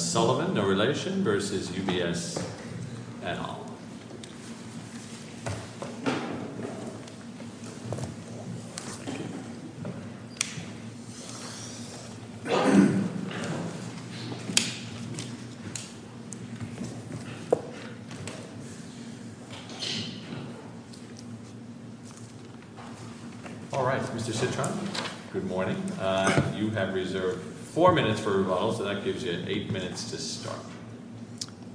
Sullivan, no relation, v. UBS et al. Alright, Mr. Citron, good morning. You have reserved four minutes for rebuttal, so that gives you eight minutes to start.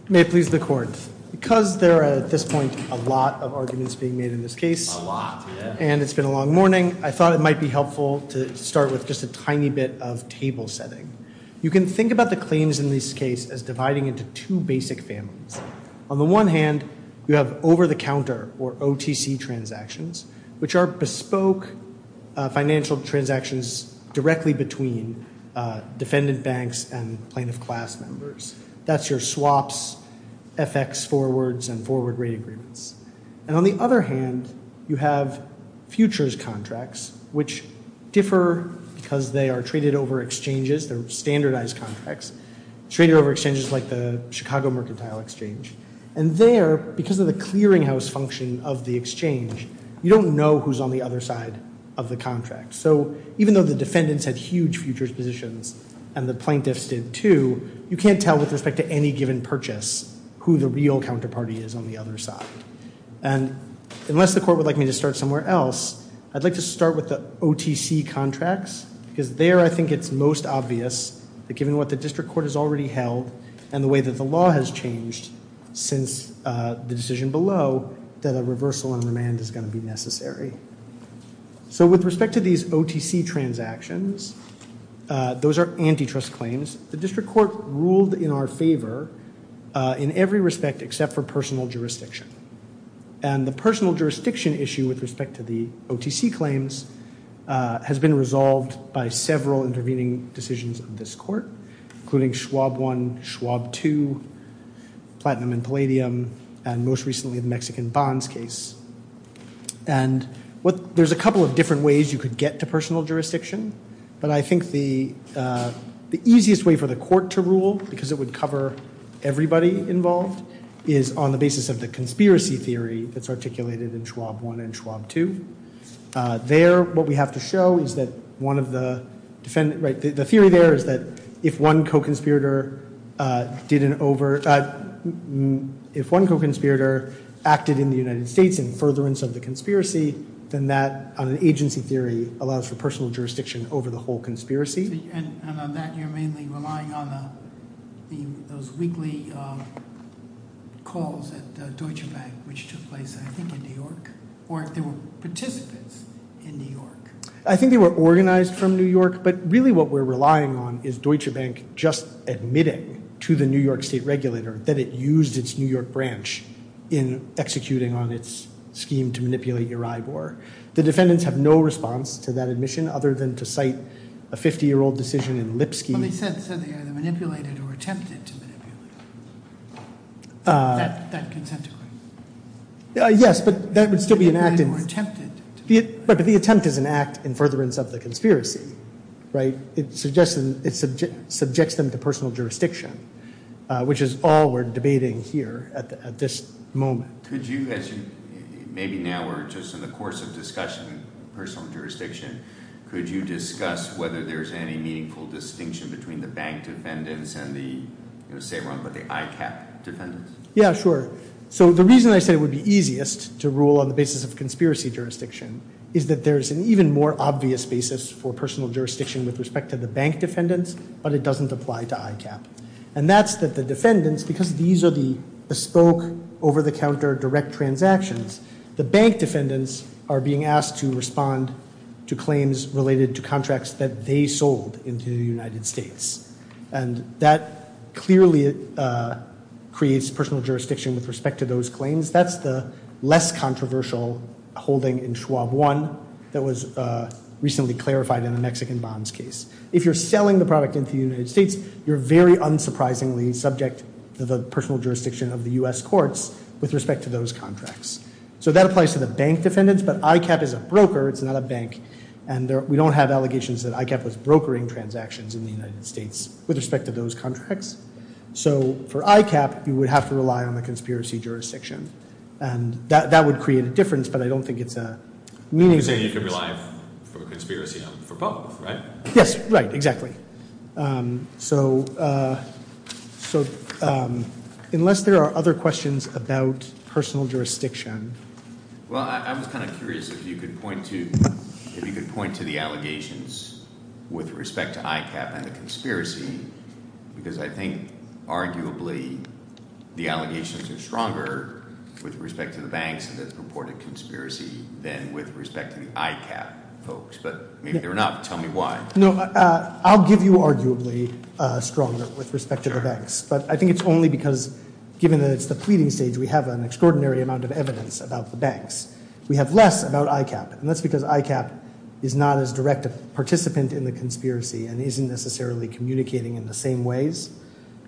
May it please the court, because there are at this point a lot of arguments being made in this case, and it's been a long morning, I thought it might be helpful to start with just a tiny bit of table setting. You can think about the claims in this case as dividing into two basic families. On the one hand, you have over-the-counter, or OTC, transactions, which are bespoke financial transactions directly between defendant banks and plaintiff class members. That's your swaps, FX forwards, and forward rate agreements. And on the other hand, you have futures contracts, which differ because they are traded over exchanges, they're standardized contracts, traded over exchanges like the Chicago Mercantile Exchange. And there, because of the clearinghouse function of the exchange, you don't know who's on the other side of the contract. So even though the defendants had huge futures positions, and the plaintiffs did too, you can't tell with respect to any given purchase who the real counterparty is on the other side. And unless the court would like me to start somewhere else, I'd like to start with the OTC contracts, because there I think it's most obvious that given what the district court has already held and the way that the law has changed since the decision below, that a reversal in remand is going to be necessary. So with respect to these OTC transactions, those are antitrust claims. The district court ruled in our favor in every respect except for personal jurisdiction. And the personal jurisdiction issue with respect to the OTC claims has been resolved by several intervening decisions of this court, including Schwab 1, Schwab 2, Platinum and Palladium, and most recently the Mexican Bonds case. And there's a couple of different ways you could get to personal jurisdiction, but I think the easiest way for the court to rule, because it would cover everybody involved, is on the basis of the conspiracy theory that's articulated in Schwab 1 and Schwab 2. There, what we have to show is that one of the defendants, right, the theory there is that if one co-conspirator did an over, if one co-conspirator acted in the United States in furtherance of the conspiracy, then that on an agency theory allows for personal jurisdiction over the whole conspiracy. And on that you're mainly relying on those weekly calls at Deutsche Bank, which took place I think in New York, or if there were participants in New York. I think they were organized from New York, but really what we're relying on is Deutsche Bank just admitting to the New York state regulator that it used its New York branch in executing on its scheme to manipulate Eryibor. The defendants have no response to that admission other than to cite a 50-year-old decision in Lipsky. Well, they said they either manipulated or attempted to manipulate that consent decree. Yes, but that would still be an act in. Or attempted. But the attempt is an act in furtherance of the conspiracy, right? It suggests, it subjects them to personal jurisdiction, which is all we're debating here at this moment. Could you, maybe now we're just in the course of discussion, personal jurisdiction, could you discuss whether there's any meaningful distinction between the bank defendants and the, say, the ICAP defendants? Yeah, sure. So the reason I said it would be easiest to rule on the basis of conspiracy jurisdiction is that there's an even more obvious basis for personal jurisdiction with respect to the bank defendants, but it doesn't apply to ICAP. And that's that the defendants, because these are the bespoke, over-the-counter, direct transactions, the bank defendants are being asked to respond to claims related to contracts that they sold into the United States. And that clearly creates personal jurisdiction with respect to those claims. That's the less controversial holding in Schwab 1 that was recently clarified in the Mexican bonds case. If you're selling the product into the United States, you're very unsurprisingly subject to the personal jurisdiction of the U.S. courts with respect to those contracts. So that applies to the bank defendants, but ICAP is a broker, it's not a bank, and we don't have allegations that ICAP was brokering transactions in the United States with respect to those contracts. So for ICAP, you would have to rely on the conspiracy jurisdiction. And that would create a difference, but I don't think it's a meaningful difference. You're saying you could rely for conspiracy for both, right? Yes, right, exactly. So unless there are other questions about personal jurisdiction. Well, I was kind of curious if you could point to the allegations with respect to ICAP and the conspiracy, because I think arguably the allegations are stronger with respect to the banks that reported conspiracy than with respect to the ICAP folks. But maybe they're not. Tell me why. No, I'll give you arguably stronger with respect to the banks, but I think it's only because given that it's the pleading stage, we have an extraordinary amount of evidence about the banks. We have less about ICAP, and that's because ICAP is not as direct a participant in the conspiracy and isn't necessarily communicating in the same ways.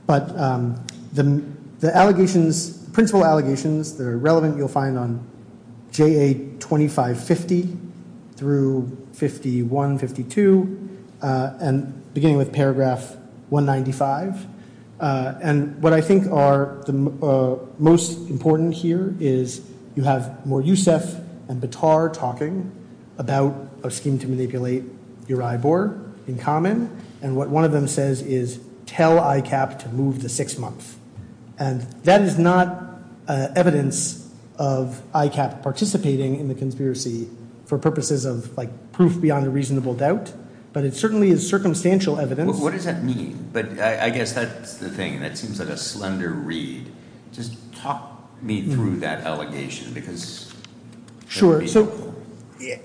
But the allegations, principal allegations that are relevant, you'll find on JA 2550 through 51, 52, and beginning with paragraph 195. And what I think are the most important here is you have more Yousef and Batar talking about a scheme to manipulate Uribor in common, and what one of them says is tell ICAP to move to six months. And that is not evidence of ICAP participating in the conspiracy for purposes of proof beyond a reasonable doubt, but it certainly is circumstantial evidence. What does that mean? But I guess that's the thing. That seems like a slender read. Just talk me through that allegation. Sure. So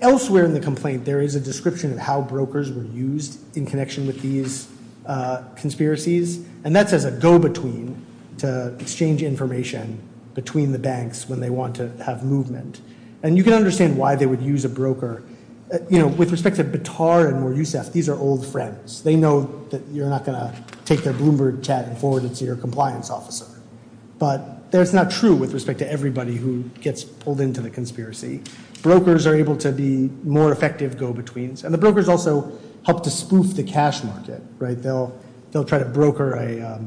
elsewhere in the complaint, there is a description of how brokers were used in connection with these conspiracies, and that's as a go-between to exchange information between the banks when they want to have movement. And you can understand why they would use a broker. You know, with respect to Batar and more Yousef, these are old friends. They know that you're not going to take their Bloomberg chat and forward it to your compliance officer. But that's not true with respect to everybody who gets pulled into the conspiracy. Brokers are able to be more effective go-betweens, and the brokers also help to spoof the cash market, right? They'll try to broker a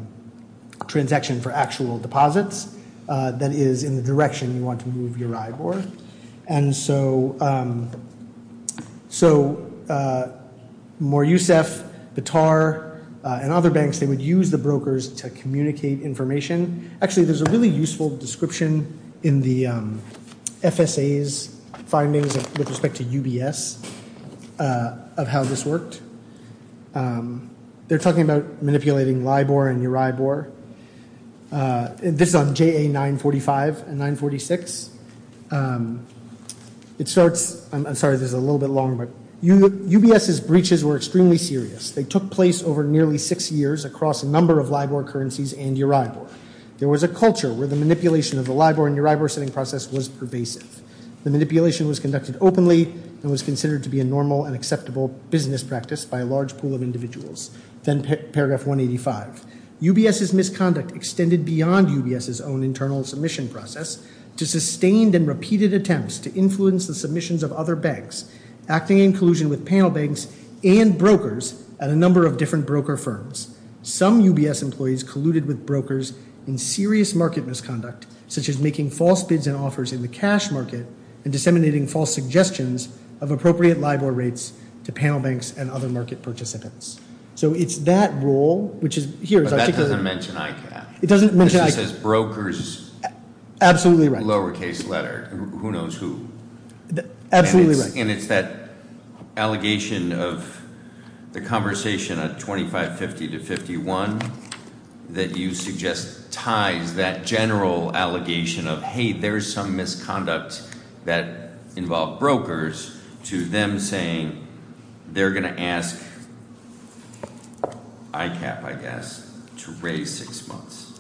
transaction for actual deposits that is in the direction you want to move Uribor. And so more Yousef, Batar, and other banks, they would use the brokers to communicate information. Actually, there's a really useful description in the FSA's findings with respect to UBS of how this worked. They're talking about manipulating Libor and Uribor. This is on JA 945 and 946. It starts, I'm sorry this is a little bit long, but UBS's breaches were extremely serious. They took place over nearly six years across a number of Libor currencies and Uribor. There was a culture where the manipulation of the Libor and Uribor sending process was pervasive. The manipulation was conducted openly and was considered to be a normal and acceptable business practice by a large pool of individuals. Then paragraph 185, UBS's misconduct extended beyond UBS's own internal submission process to sustained and repeated attempts to influence the submissions of other banks, acting in collusion with panel banks and brokers at a number of different broker firms. Some UBS employees colluded with brokers in serious market misconduct, such as making false bids and offers in the cash market and disseminating false suggestions of appropriate Libor rates to panel banks and other market participants. So it's that rule, which is here. But that doesn't mention ICAP. It doesn't mention ICAP. It just says brokers. Absolutely right. Lower case letter. Who knows who. Absolutely right. And it's that allegation of the conversation of 2550 to 51 that you suggest ties that general allegation of, hey, there's some misconduct that involved brokers to them saying they're going to ask ICAP, I guess, to raise six months.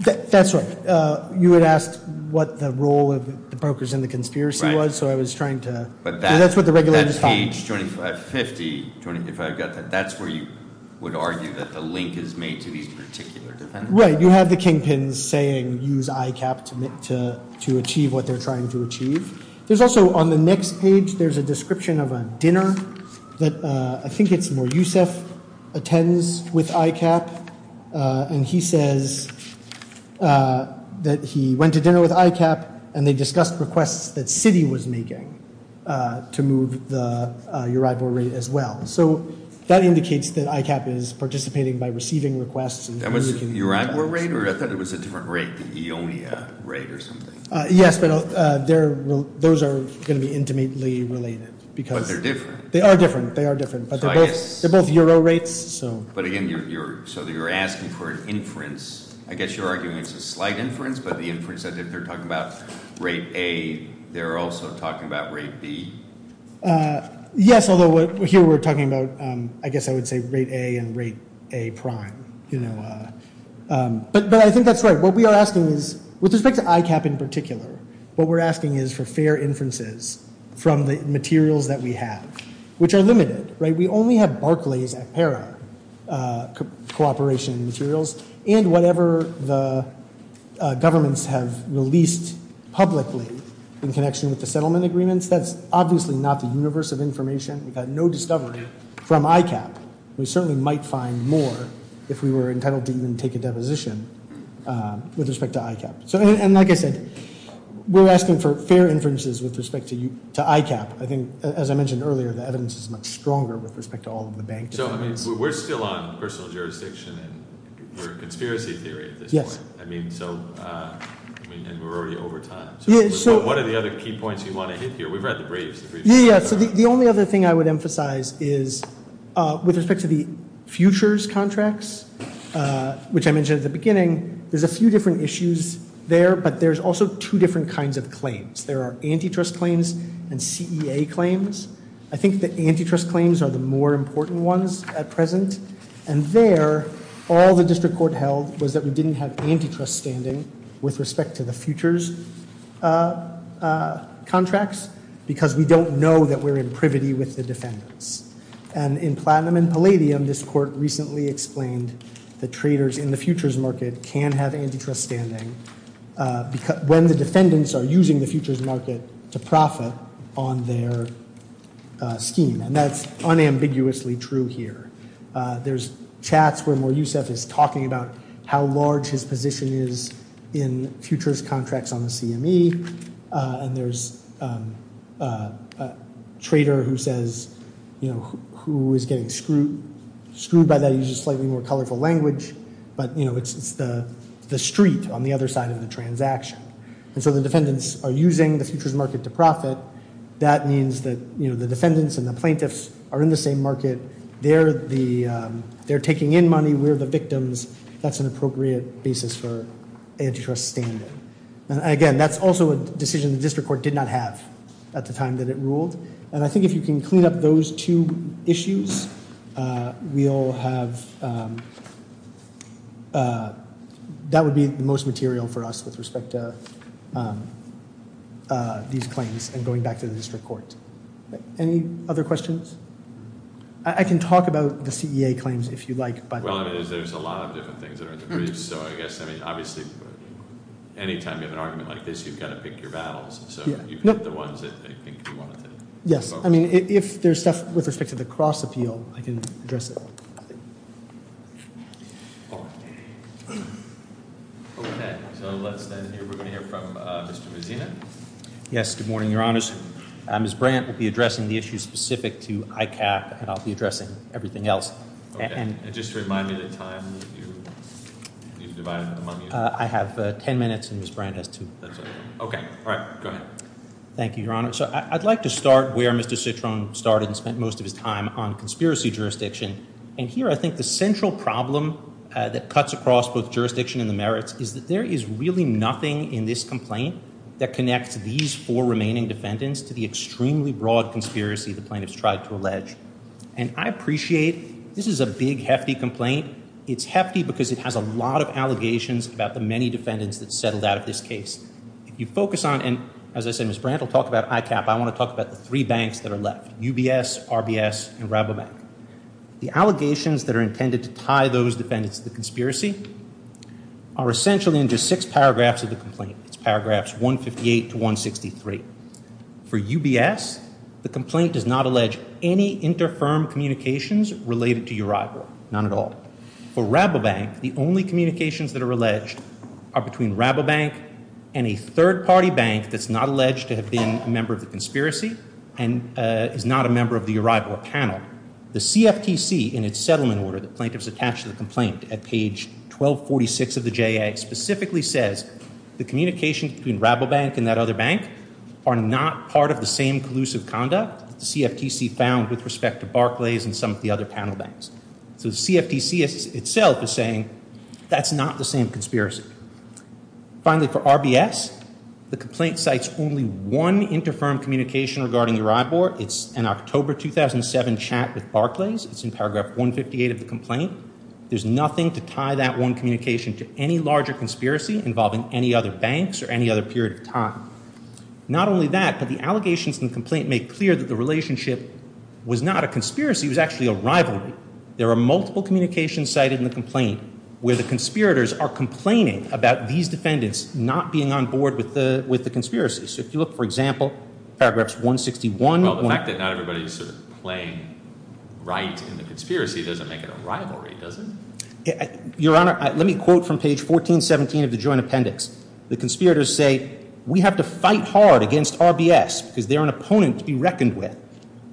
That's right. You had asked what the role of the brokers in the conspiracy was. Right. So I was trying to. So that's what the regulator's talking about. 2550, if I've got that, that's where you would argue that the link is made to these particular defendants. Right. You have the kingpins saying use ICAP to achieve what they're trying to achieve. There's also on the next page, there's a description of a dinner that I think it's where Yousef attends with ICAP. And he says that he went to dinner with ICAP and they discussed requests that Citi was making to move the Euribor rate as well. So that indicates that ICAP is participating by receiving requests. That was Euribor rate? Or I thought it was a different rate, the Eonia rate or something. Yes, but those are going to be intimately related. But they're different. They are different. They are different. But they're both Euro rates. But, again, so you're asking for an inference. I guess you're arguing it's a slight inference, but the inference that they're talking about rate A, they're also talking about rate B? Yes, although here we're talking about, I guess I would say, rate A and rate A prime. But I think that's right. What we are asking is, with respect to ICAP in particular, what we're asking is for fair inferences from the materials that we have, which are limited. We only have Barclays ACPERA cooperation materials. And whatever the governments have released publicly in connection with the settlement agreements, that's obviously not the universe of information. We've had no discovery from ICAP. We certainly might find more if we were entitled to even take a deposition with respect to ICAP. And like I said, we're asking for fair inferences with respect to ICAP. I think, as I mentioned earlier, the evidence is much stronger with respect to all of the bank defendants. So, I mean, we're still on personal jurisdiction and we're in conspiracy theory at this point. I mean, and we're already over time. So what are the other key points you want to hit here? We've read the briefs. Yeah, yeah. So the only other thing I would emphasize is, with respect to the futures contracts, which I mentioned at the beginning, there's a few different issues there. But there's also two different kinds of claims. There are antitrust claims and CEA claims. I think the antitrust claims are the more important ones at present. And there, all the district court held was that we didn't have antitrust standing with respect to the futures contracts because we don't know that we're in privity with the defendants. And in Platinum and Palladium, this court recently explained that traders in the futures market can have antitrust standing when the defendants are using the futures market to profit on their scheme. And that's unambiguously true here. There's chats where Mo Yusef is talking about how large his position is in futures contracts on the CME. And there's a trader who says, you know, who is getting screwed by that. He uses slightly more colorful language. But, you know, it's the street on the other side of the transaction. And so the defendants are using the futures market to profit. That means that, you know, the defendants and the plaintiffs are in the same market. They're taking in money. We're the victims. That's an appropriate basis for antitrust standing. And again, that's also a decision the district court did not have at the time that it ruled. And I think if you can clean up those two issues, we'll have, that would be the most material for us with respect to these claims and going back to the district court. Any other questions? I can talk about the CEA claims if you'd like. Well, there's a lot of different things that are in the briefs. So I guess, I mean, obviously, any time you have an argument like this, you've got to pick your battles. So you pick the ones that you think you want to focus on. Yes. I mean, if there's stuff with respect to the cross appeal, I can address it. Okay. So let's then hear, we're going to hear from Mr. Mazina. Yes. Good morning, Your Honors. Ms. Brandt will be addressing the issue specific to ICAP, and I'll be addressing everything else. Okay. And just to remind me the time that you've divided among you. I have 10 minutes, and Ms. Brandt has two. Okay. All right. Go ahead. Thank you, Your Honor. So I'd like to start where Mr. Citron started and spent most of his time on conspiracy jurisdiction. And here, I think the central problem that cuts across both jurisdiction and the merits is that there is really nothing in this complaint that connects these four remaining defendants to the extremely broad conspiracy the plaintiffs tried to allege. And I appreciate this is a big, hefty complaint. It's hefty because it has a lot of allegations about the many defendants that settled out of this case. If you focus on, and as I said, Ms. Brandt will talk about ICAP. I want to talk about the three banks that are left, UBS, RBS, and Rabobank. The allegations that are intended to tie those defendants to the conspiracy are essentially in just six paragraphs of the complaint. It's paragraphs 158 to 163. For UBS, the complaint does not allege any inter-firm communications related to Uribor. Not at all. For Rabobank, the only communications that are alleged are between Rabobank and a third-party bank that's not alleged to have been a member of the conspiracy and is not a member of the Uribor panel. Now, the CFTC, in its settlement order that plaintiffs attached to the complaint at page 1246 of the JA, specifically says the communication between Rabobank and that other bank are not part of the same collusive conduct that the CFTC found with respect to Barclays and some of the other panel banks. So the CFTC itself is saying that's not the same conspiracy. Finally, for RBS, the complaint cites only one inter-firm communication regarding Uribor. It's an October 2007 chat with Barclays. It's in paragraph 158 of the complaint. There's nothing to tie that one communication to any larger conspiracy involving any other banks or any other period of time. Not only that, but the allegations in the complaint make clear that the relationship was not a conspiracy. It was actually a rivalry. There are multiple communications cited in the complaint where the conspirators are complaining about these defendants not being on board with the conspiracy. So if you look, for example, paragraphs 161. Well, the fact that not everybody is sort of playing right in the conspiracy doesn't make it a rivalry, does it? Your Honor, let me quote from page 1417 of the joint appendix. The conspirators say we have to fight hard against RBS because they're an opponent to be reckoned with.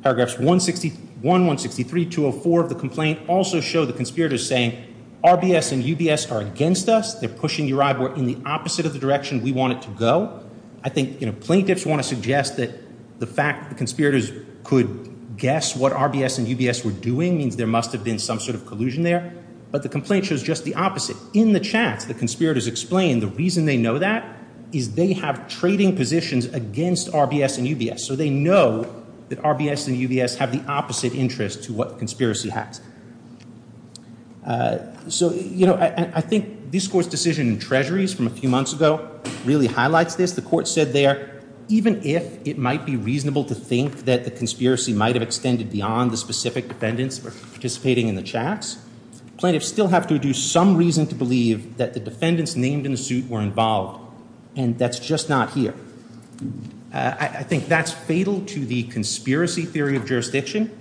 Paragraphs 161, 163, 204 of the complaint also show the conspirators saying RBS and UBS are against us. They're pushing Uribor in the opposite of the direction we want it to go. I think plaintiffs want to suggest that the fact that the conspirators could guess what RBS and UBS were doing means there must have been some sort of collusion there. But the complaint shows just the opposite. In the chat, the conspirators explain the reason they know that is they have trading positions against RBS and UBS. So they know that RBS and UBS have the opposite interest to what the conspiracy has. So, you know, I think this Court's decision in Treasuries from a few months ago really highlights this. The Court said there even if it might be reasonable to think that the conspiracy might have extended beyond the specific defendants participating in the chats, plaintiffs still have to do some reason to believe that the defendants named in the suit were involved. And that's just not here. I think that's fatal to the conspiracy theory of jurisdiction.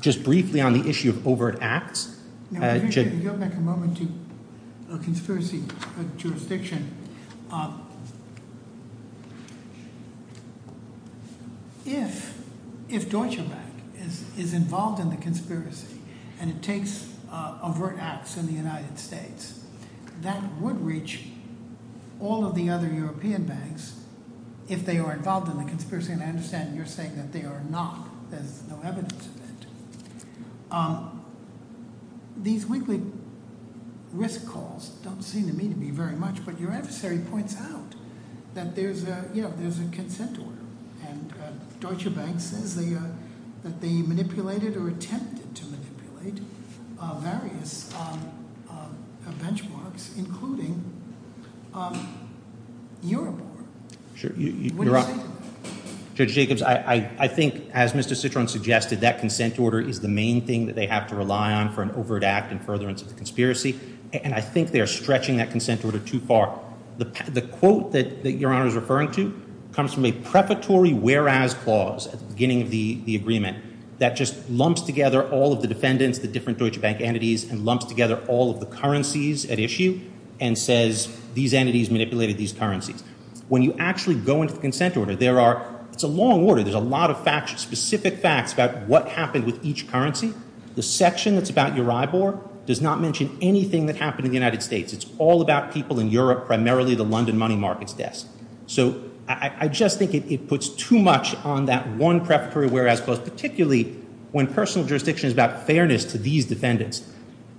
Just briefly on the issue of overt acts. If you'll make a moment to – a conspiracy of jurisdiction. If Deutsche Bank is involved in the conspiracy and it takes overt acts in the United States, that would reach all of the other European banks if they are involved in the conspiracy. And I understand you're saying that they are not. There's no evidence of it. These weekly risk calls don't seem to mean to me very much. But your adversary points out that there's a – you know, there's a consent order. And Deutsche Bank says that they manipulated or attempted to manipulate various benchmarks, including Eurobor. Judge Jacobs, I think, as Mr. Citron suggested, that consent order is the main thing that they have to rely on for an overt act in furtherance of the conspiracy. And I think they are stretching that consent order too far. The quote that Your Honor is referring to comes from a preparatory whereas clause at the beginning of the agreement that just lumps together all of the defendants, the different Deutsche Bank entities, and lumps together all of the currencies at issue and says these entities manipulated these currencies. When you actually go into the consent order, there are – it's a long order. There's a lot of specific facts about what happened with each currency. The section that's about Eurobor does not mention anything that happened in the United States. It's all about people in Europe, primarily the London money markets desk. So I just think it puts too much on that one preparatory whereas clause, particularly when personal jurisdiction is about fairness to these defendants.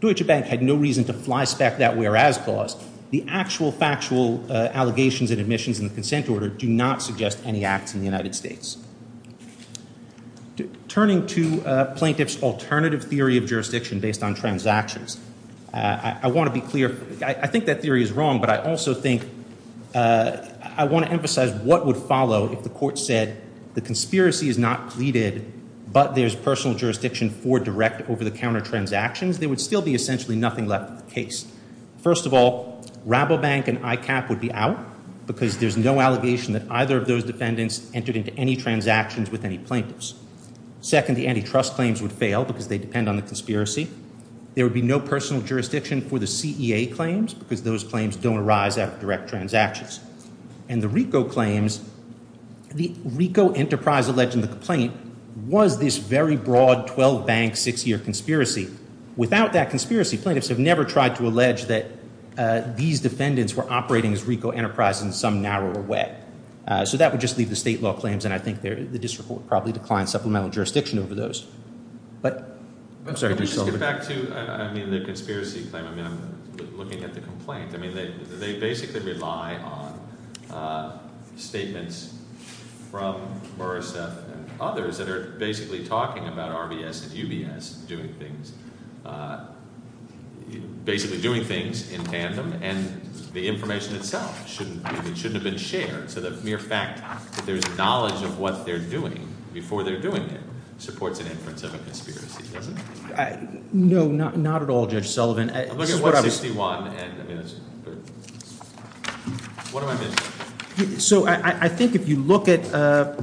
Deutsche Bank had no reason to fly spec that whereas clause. The actual factual allegations and admissions in the consent order do not suggest any acts in the United States. Turning to plaintiff's alternative theory of jurisdiction based on transactions, I want to be clear. I think that theory is wrong, but I also think I want to emphasize what would follow if the court said the conspiracy is not pleaded, but there's personal jurisdiction for direct over-the-counter transactions, First of all, Rabobank and ICAP would be out because there's no allegation that either of those defendants entered into any transactions with any plaintiffs. Second, the antitrust claims would fail because they depend on the conspiracy. There would be no personal jurisdiction for the CEA claims because those claims don't arise out of direct transactions. And the RICO claims – the RICO enterprise alleged in the complaint was this very broad 12-bank, six-year conspiracy. Without that conspiracy, plaintiffs have never tried to allege that these defendants were operating as RICO enterprises in some narrow way. So that would just leave the state law claims, and I think the district would probably decline supplemental jurisdiction over those. But – I'm sorry. Can I just get back to – I mean, the conspiracy claim. I mean, I'm looking at the complaint. I mean, they basically rely on statements from Buraseth and others that are basically talking about RBS and UBS doing things – basically doing things in tandem, and the information itself shouldn't – it shouldn't have been shared. So the mere fact that there's knowledge of what they're doing before they're doing it supports an inference of a conspiracy, doesn't it? No, not at all, Judge Sullivan. I'm looking at 161, and I mean, it's – what am I missing? So I think if you look at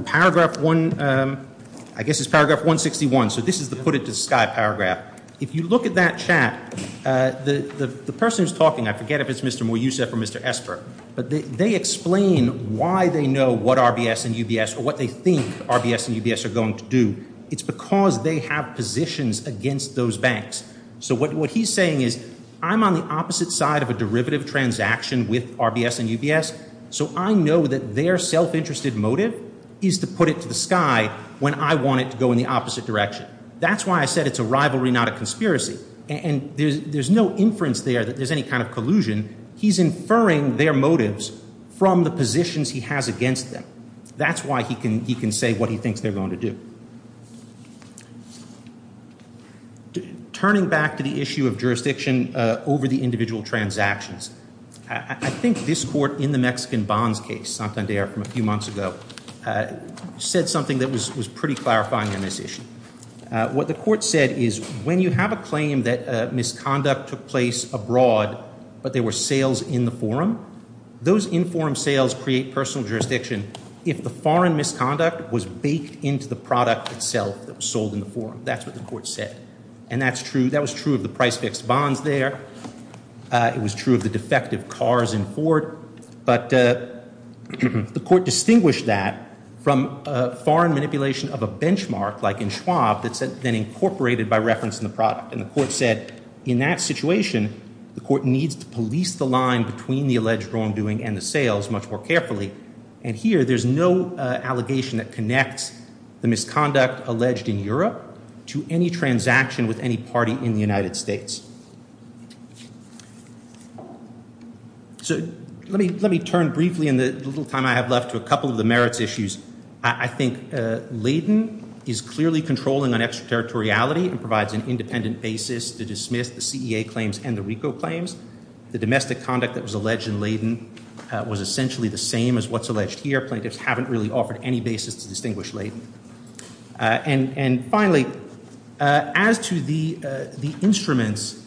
Paragraph 1 – I guess it's Paragraph 161. So this is the put-it-to-sky paragraph. If you look at that chat, the person who's talking – I forget if it's Mr. Mouyousef or Mr. Esper, but they explain why they know what RBS and UBS or what they think RBS and UBS are going to do. It's because they have positions against those banks. So what he's saying is I'm on the opposite side of a derivative transaction with RBS and UBS, so I know that their self-interested motive is to put it to the sky when I want it to go in the opposite direction. That's why I said it's a rivalry, not a conspiracy. And there's no inference there that there's any kind of collusion. He's inferring their motives from the positions he has against them. That's why he can say what he thinks they're going to do. Turning back to the issue of jurisdiction over the individual transactions, I think this court in the Mexican bonds case, Santander from a few months ago, said something that was pretty clarifying on this issue. What the court said is when you have a claim that misconduct took place abroad but there were sales in the forum, those in-forum sales create personal jurisdiction if the foreign misconduct was baked into the product itself that was sold in the forum. That's what the court said. And that's true. That was true of the price-fixed bonds there. It was true of the defective cars in Ford. But the court distinguished that from foreign manipulation of a benchmark like in Schwab that's then incorporated by reference in the product. And the court said in that situation the court needs to police the line between the alleged wrongdoing and the sales much more carefully. And here there's no allegation that connects the misconduct alleged in Europe to any transaction with any party in the United States. So let me turn briefly in the little time I have left to a couple of the merits issues. I think Layden is clearly controlling on extraterritoriality and provides an independent basis to dismiss the CEA claims and the RICO claims. The domestic conduct that was alleged in Layden was essentially the same as what's alleged here. Plaintiffs haven't really offered any basis to distinguish Layden. And finally, as to the instruments,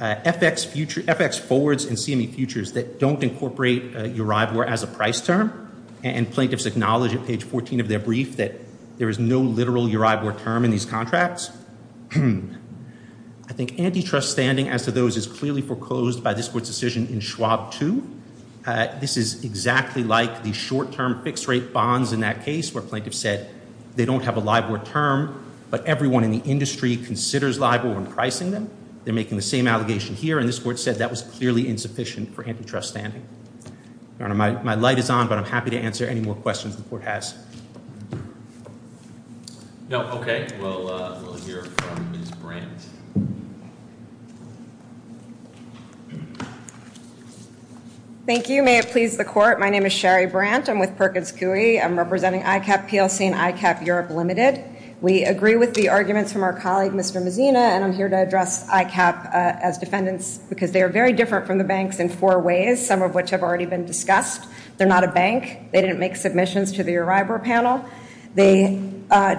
FX forwards and CME futures that don't incorporate URIBOR as a price term, and plaintiffs acknowledge at page 14 of their brief that there is no literal URIBOR term in these contracts, I think antitrust standing as to those is clearly foreclosed by this court's decision in Schwab 2. This is exactly like the short-term fixed-rate bonds in that case where plaintiffs said they don't have a LIBOR term, but everyone in the industry considers LIBOR when pricing them. They're making the same allegation here, and this court said that was clearly insufficient for antitrust standing. Your Honor, my light is on, but I'm happy to answer any more questions the court has. No, okay. We'll hear from Ms. Brandt. Thank you. May it please the court, my name is Sherry Brandt. I'm with Perkins Coie. I'm representing ICAP PLC and ICAP Europe Limited. We agree with the arguments from our colleague, Mr. Mazzina, and I'm here to address ICAP as defendants because they are very different from the banks in four ways, some of which have already been discussed. They're not a bank. They didn't make submissions to the URIBOR panel. They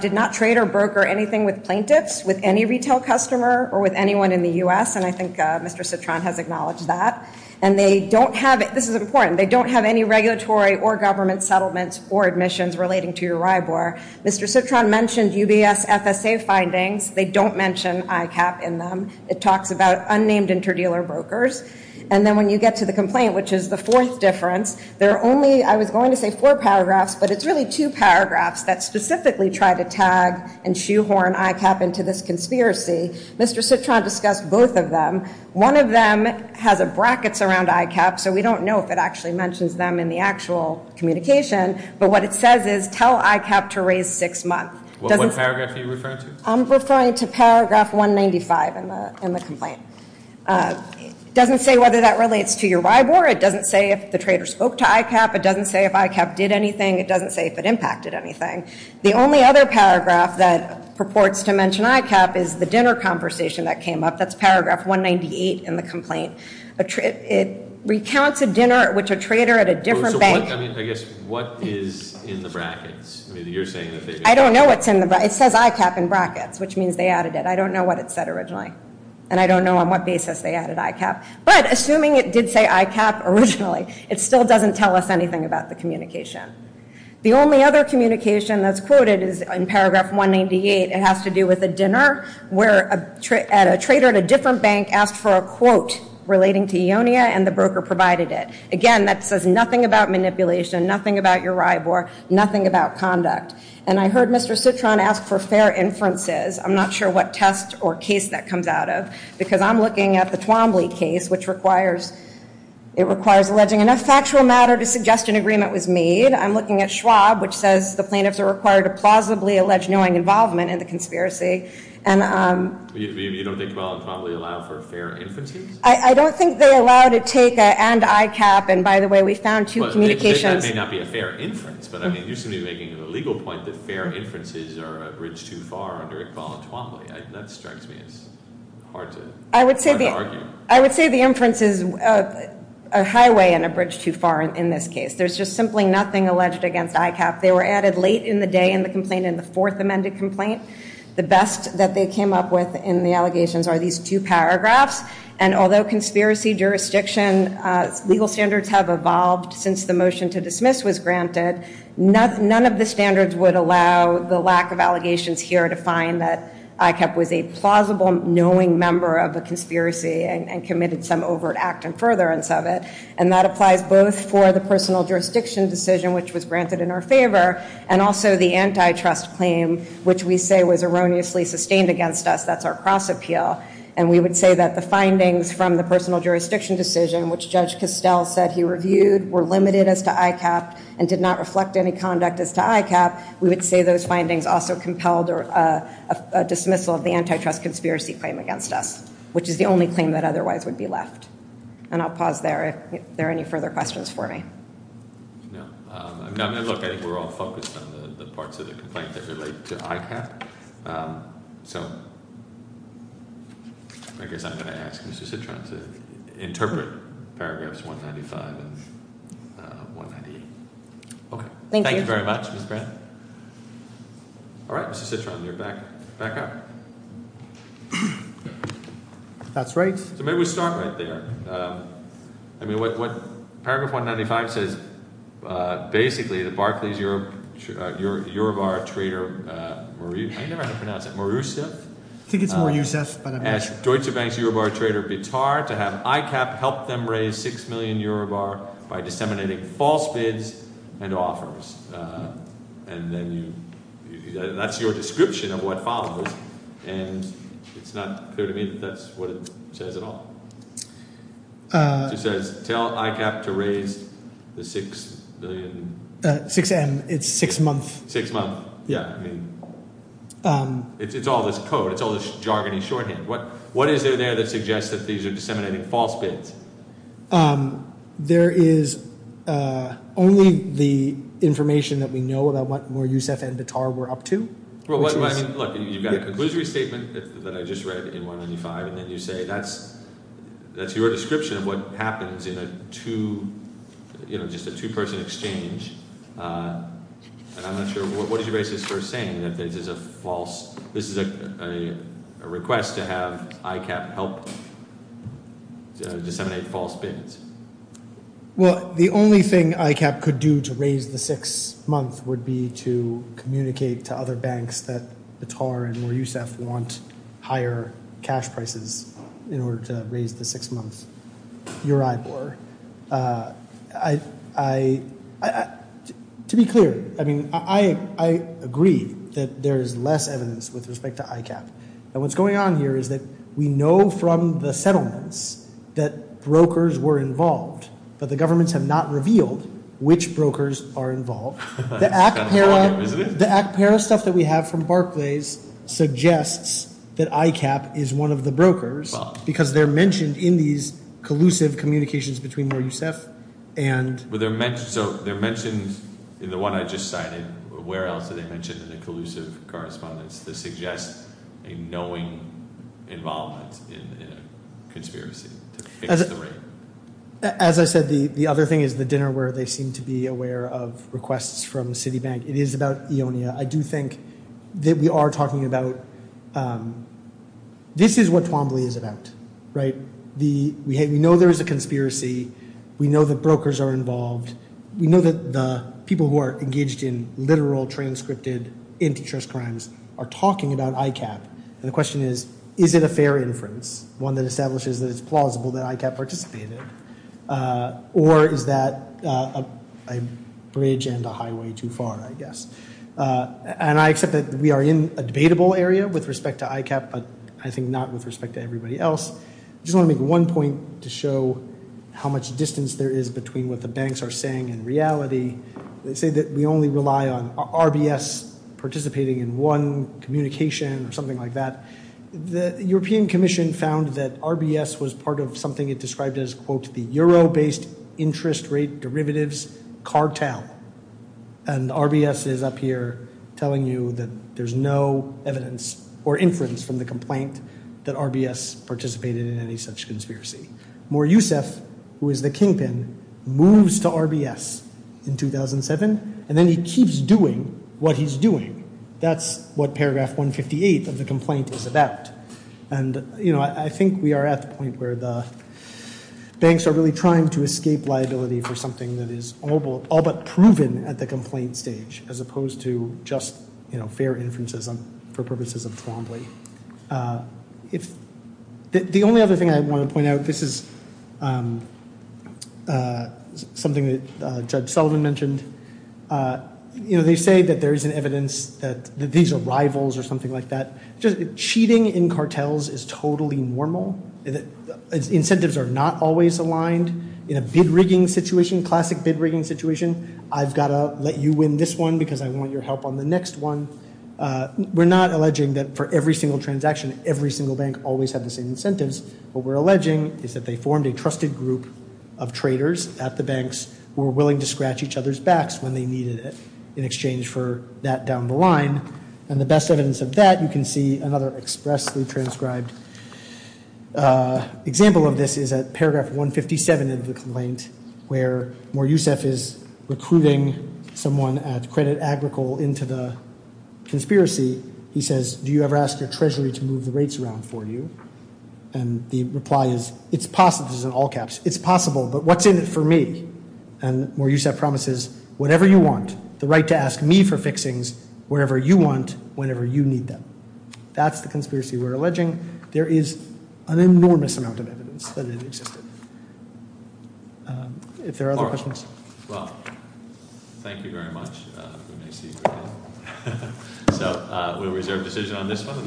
did not trade or broker anything with plaintiffs, with any retail customer, or with anyone in the U.S., and I think Mr. Citron has acknowledged that. And they don't have it. This is important. They don't have any regulatory or government settlements or admissions relating to URIBOR. Mr. Citron mentioned UBS FSA findings. They don't mention ICAP in them. It talks about unnamed interdealer brokers. And then when you get to the complaint, which is the fourth difference, there are only, I was going to say four paragraphs, but it's really two paragraphs that specifically try to tag and shoehorn ICAP into this conspiracy. Mr. Citron discussed both of them. One of them has brackets around ICAP, so we don't know if it actually mentions them in the actual communication, but what it says is tell ICAP to raise six months. What paragraph are you referring to? I'm referring to paragraph 195 in the complaint. It doesn't say whether that relates to URIBOR. It doesn't say if the trader spoke to ICAP. It doesn't say if ICAP did anything. It doesn't say if it impacted anything. The only other paragraph that purports to mention ICAP is the dinner conversation that came up. That's paragraph 198 in the complaint. It recounts a dinner at which a trader at a different bank. I guess what is in the brackets? I don't know what's in the brackets. It says ICAP in brackets, which means they added it. I don't know what it said originally, and I don't know on what basis they added ICAP. But assuming it did say ICAP originally, it still doesn't tell us anything about the communication. The only other communication that's quoted is in paragraph 198. It has to do with a dinner where a trader at a different bank asked for a quote relating to EONIA, and the broker provided it. Again, that says nothing about manipulation, nothing about URIBOR, nothing about conduct. And I heard Mr. Citron ask for fair inferences. I'm not sure what test or case that comes out of, because I'm looking at the Twombly case, which requires alleging enough factual matter to suggest an agreement was made. I'm looking at Schwab, which says the plaintiffs are required to plausibly allege knowing involvement in the conspiracy. You don't think Iqbal and Twombly allow for fair inferences? I don't think they allow to take an ICAP. And by the way, we found two communications. That may not be a fair inference, but you seem to be making a legal point that fair inferences are a bridge too far under Iqbal and Twombly. That strikes me as hard to argue. I would say the inference is a highway and a bridge too far in this case. There's just simply nothing alleged against ICAP. They were added late in the day in the complaint, in the fourth amended complaint. The best that they came up with in the allegations are these two paragraphs. And although conspiracy jurisdiction legal standards have evolved since the motion to dismiss was granted, none of the standards would allow the lack of allegations here to find that ICAP was a plausible knowing member of a conspiracy and committed some overt act in furtherance of it. And that applies both for the personal jurisdiction decision, which was granted in our favor, and also the antitrust claim, which we say was erroneously sustained against us. That's our cross appeal. And we would say that the findings from the personal jurisdiction decision, which Judge Costell said he reviewed were limited as to ICAP and did not reflect any conduct as to ICAP, we would say those findings also compelled a dismissal of the antitrust conspiracy claim against us, which is the only claim that otherwise would be left. And I'll pause there if there are any further questions for me. No. Look, I think we're all focused on the parts of the complaint that relate to ICAP. So I guess I'm going to ask Mr. Citron to interpret paragraphs 195 and 198. Okay. Thank you. Thank you very much, Ms. Grant. All right, Mr. Citron, you're back up. That's right. So maybe we start right there. I mean, what paragraph 195 says, basically the Barclays Eurobar trader, I never had to pronounce it, Marusef. I think it's Marusef, but I'm not sure. Deutsche Bank's Eurobar trader, Bittar, to have ICAP help them raise 6 million Eurobar by disseminating false bids and offers. And that's your description of what follows. And it's not clear to me that that's what it says at all. It just says, tell ICAP to raise the 6 million. 6M, it's six month. Six month, yeah. It's all this code. It's all this jargony shorthand. What is there that suggests that these are disseminating false bids? There is only the information that we know about what Marusef and Bittar were up to. Look, you've got a conclusory statement that I just read in 195. And then you say that's your description of what happens in just a two-person exchange. And I'm not sure, what is your basis for saying that this is a request to have ICAP help disseminate false bids? Well, the only thing ICAP could do to raise the six month would be to communicate to other banks that Bittar and Marusef want higher cash prices in order to raise the six month Eurobar. To be clear, I mean, I agree that there is less evidence with respect to ICAP. And what's going on here is that we know from the settlements that brokers were involved. But the governments have not revealed which brokers are involved. The ACPERA stuff that we have from Barclays suggests that ICAP is one of the brokers because they're mentioned in these collusive communications between Marusef and— —knowing involvement in a conspiracy to fix the rate. As I said, the other thing is the dinner where they seem to be aware of requests from Citibank. It is about EONIA. I do think that we are talking about—this is what Twombly is about, right? We know there is a conspiracy. We know that brokers are involved. And we know that the people who are engaged in literal, transcripted antitrust crimes are talking about ICAP. And the question is, is it a fair inference, one that establishes that it's plausible that ICAP participated? Or is that a bridge and a highway too far, I guess? And I accept that we are in a debatable area with respect to ICAP, but I think not with respect to everybody else. I just want to make one point to show how much distance there is between what the banks are saying and reality. They say that we only rely on RBS participating in one communication or something like that. The European Commission found that RBS was part of something it described as, quote, the euro-based interest rate derivatives cartel. And RBS is up here telling you that there is no evidence or inference from the complaint that RBS participated in any such conspiracy. Moryousef, who is the kingpin, moves to RBS in 2007, and then he keeps doing what he's doing. That's what paragraph 158 of the complaint is about. And, you know, I think we are at the point where the banks are really trying to escape liability for something that is all but proven at the complaint stage, as opposed to just, you know, fair inferences for purposes of Twombly. The only other thing I want to point out, this is something that Judge Sullivan mentioned. You know, they say that there isn't evidence that these are rivals or something like that. Cheating in cartels is totally normal. Incentives are not always aligned. In a bid-rigging situation, classic bid-rigging situation, I've got to let you win this one because I want your help on the next one. We're not alleging that for every single transaction, every single bank always had the same incentives. What we're alleging is that they formed a trusted group of traders at the banks who were willing to scratch each other's backs when they needed it in exchange for that down the line. And the best evidence of that, you can see another expressly transcribed example of this is at paragraph 157 of the complaint, where Moryousef is recruiting someone at Credit Agricole into the conspiracy. He says, do you ever ask your treasury to move the rates around for you? And the reply is, it's possible, this is in all caps, it's possible, but what's in it for me? And Moryousef promises, whatever you want, the right to ask me for fixings wherever you want, whenever you need them. That's the conspiracy we're alleging. There is an enormous amount of evidence that it existed. If there are other questions. Well, thank you very much. We may see you again. So we'll reserve decision on this one.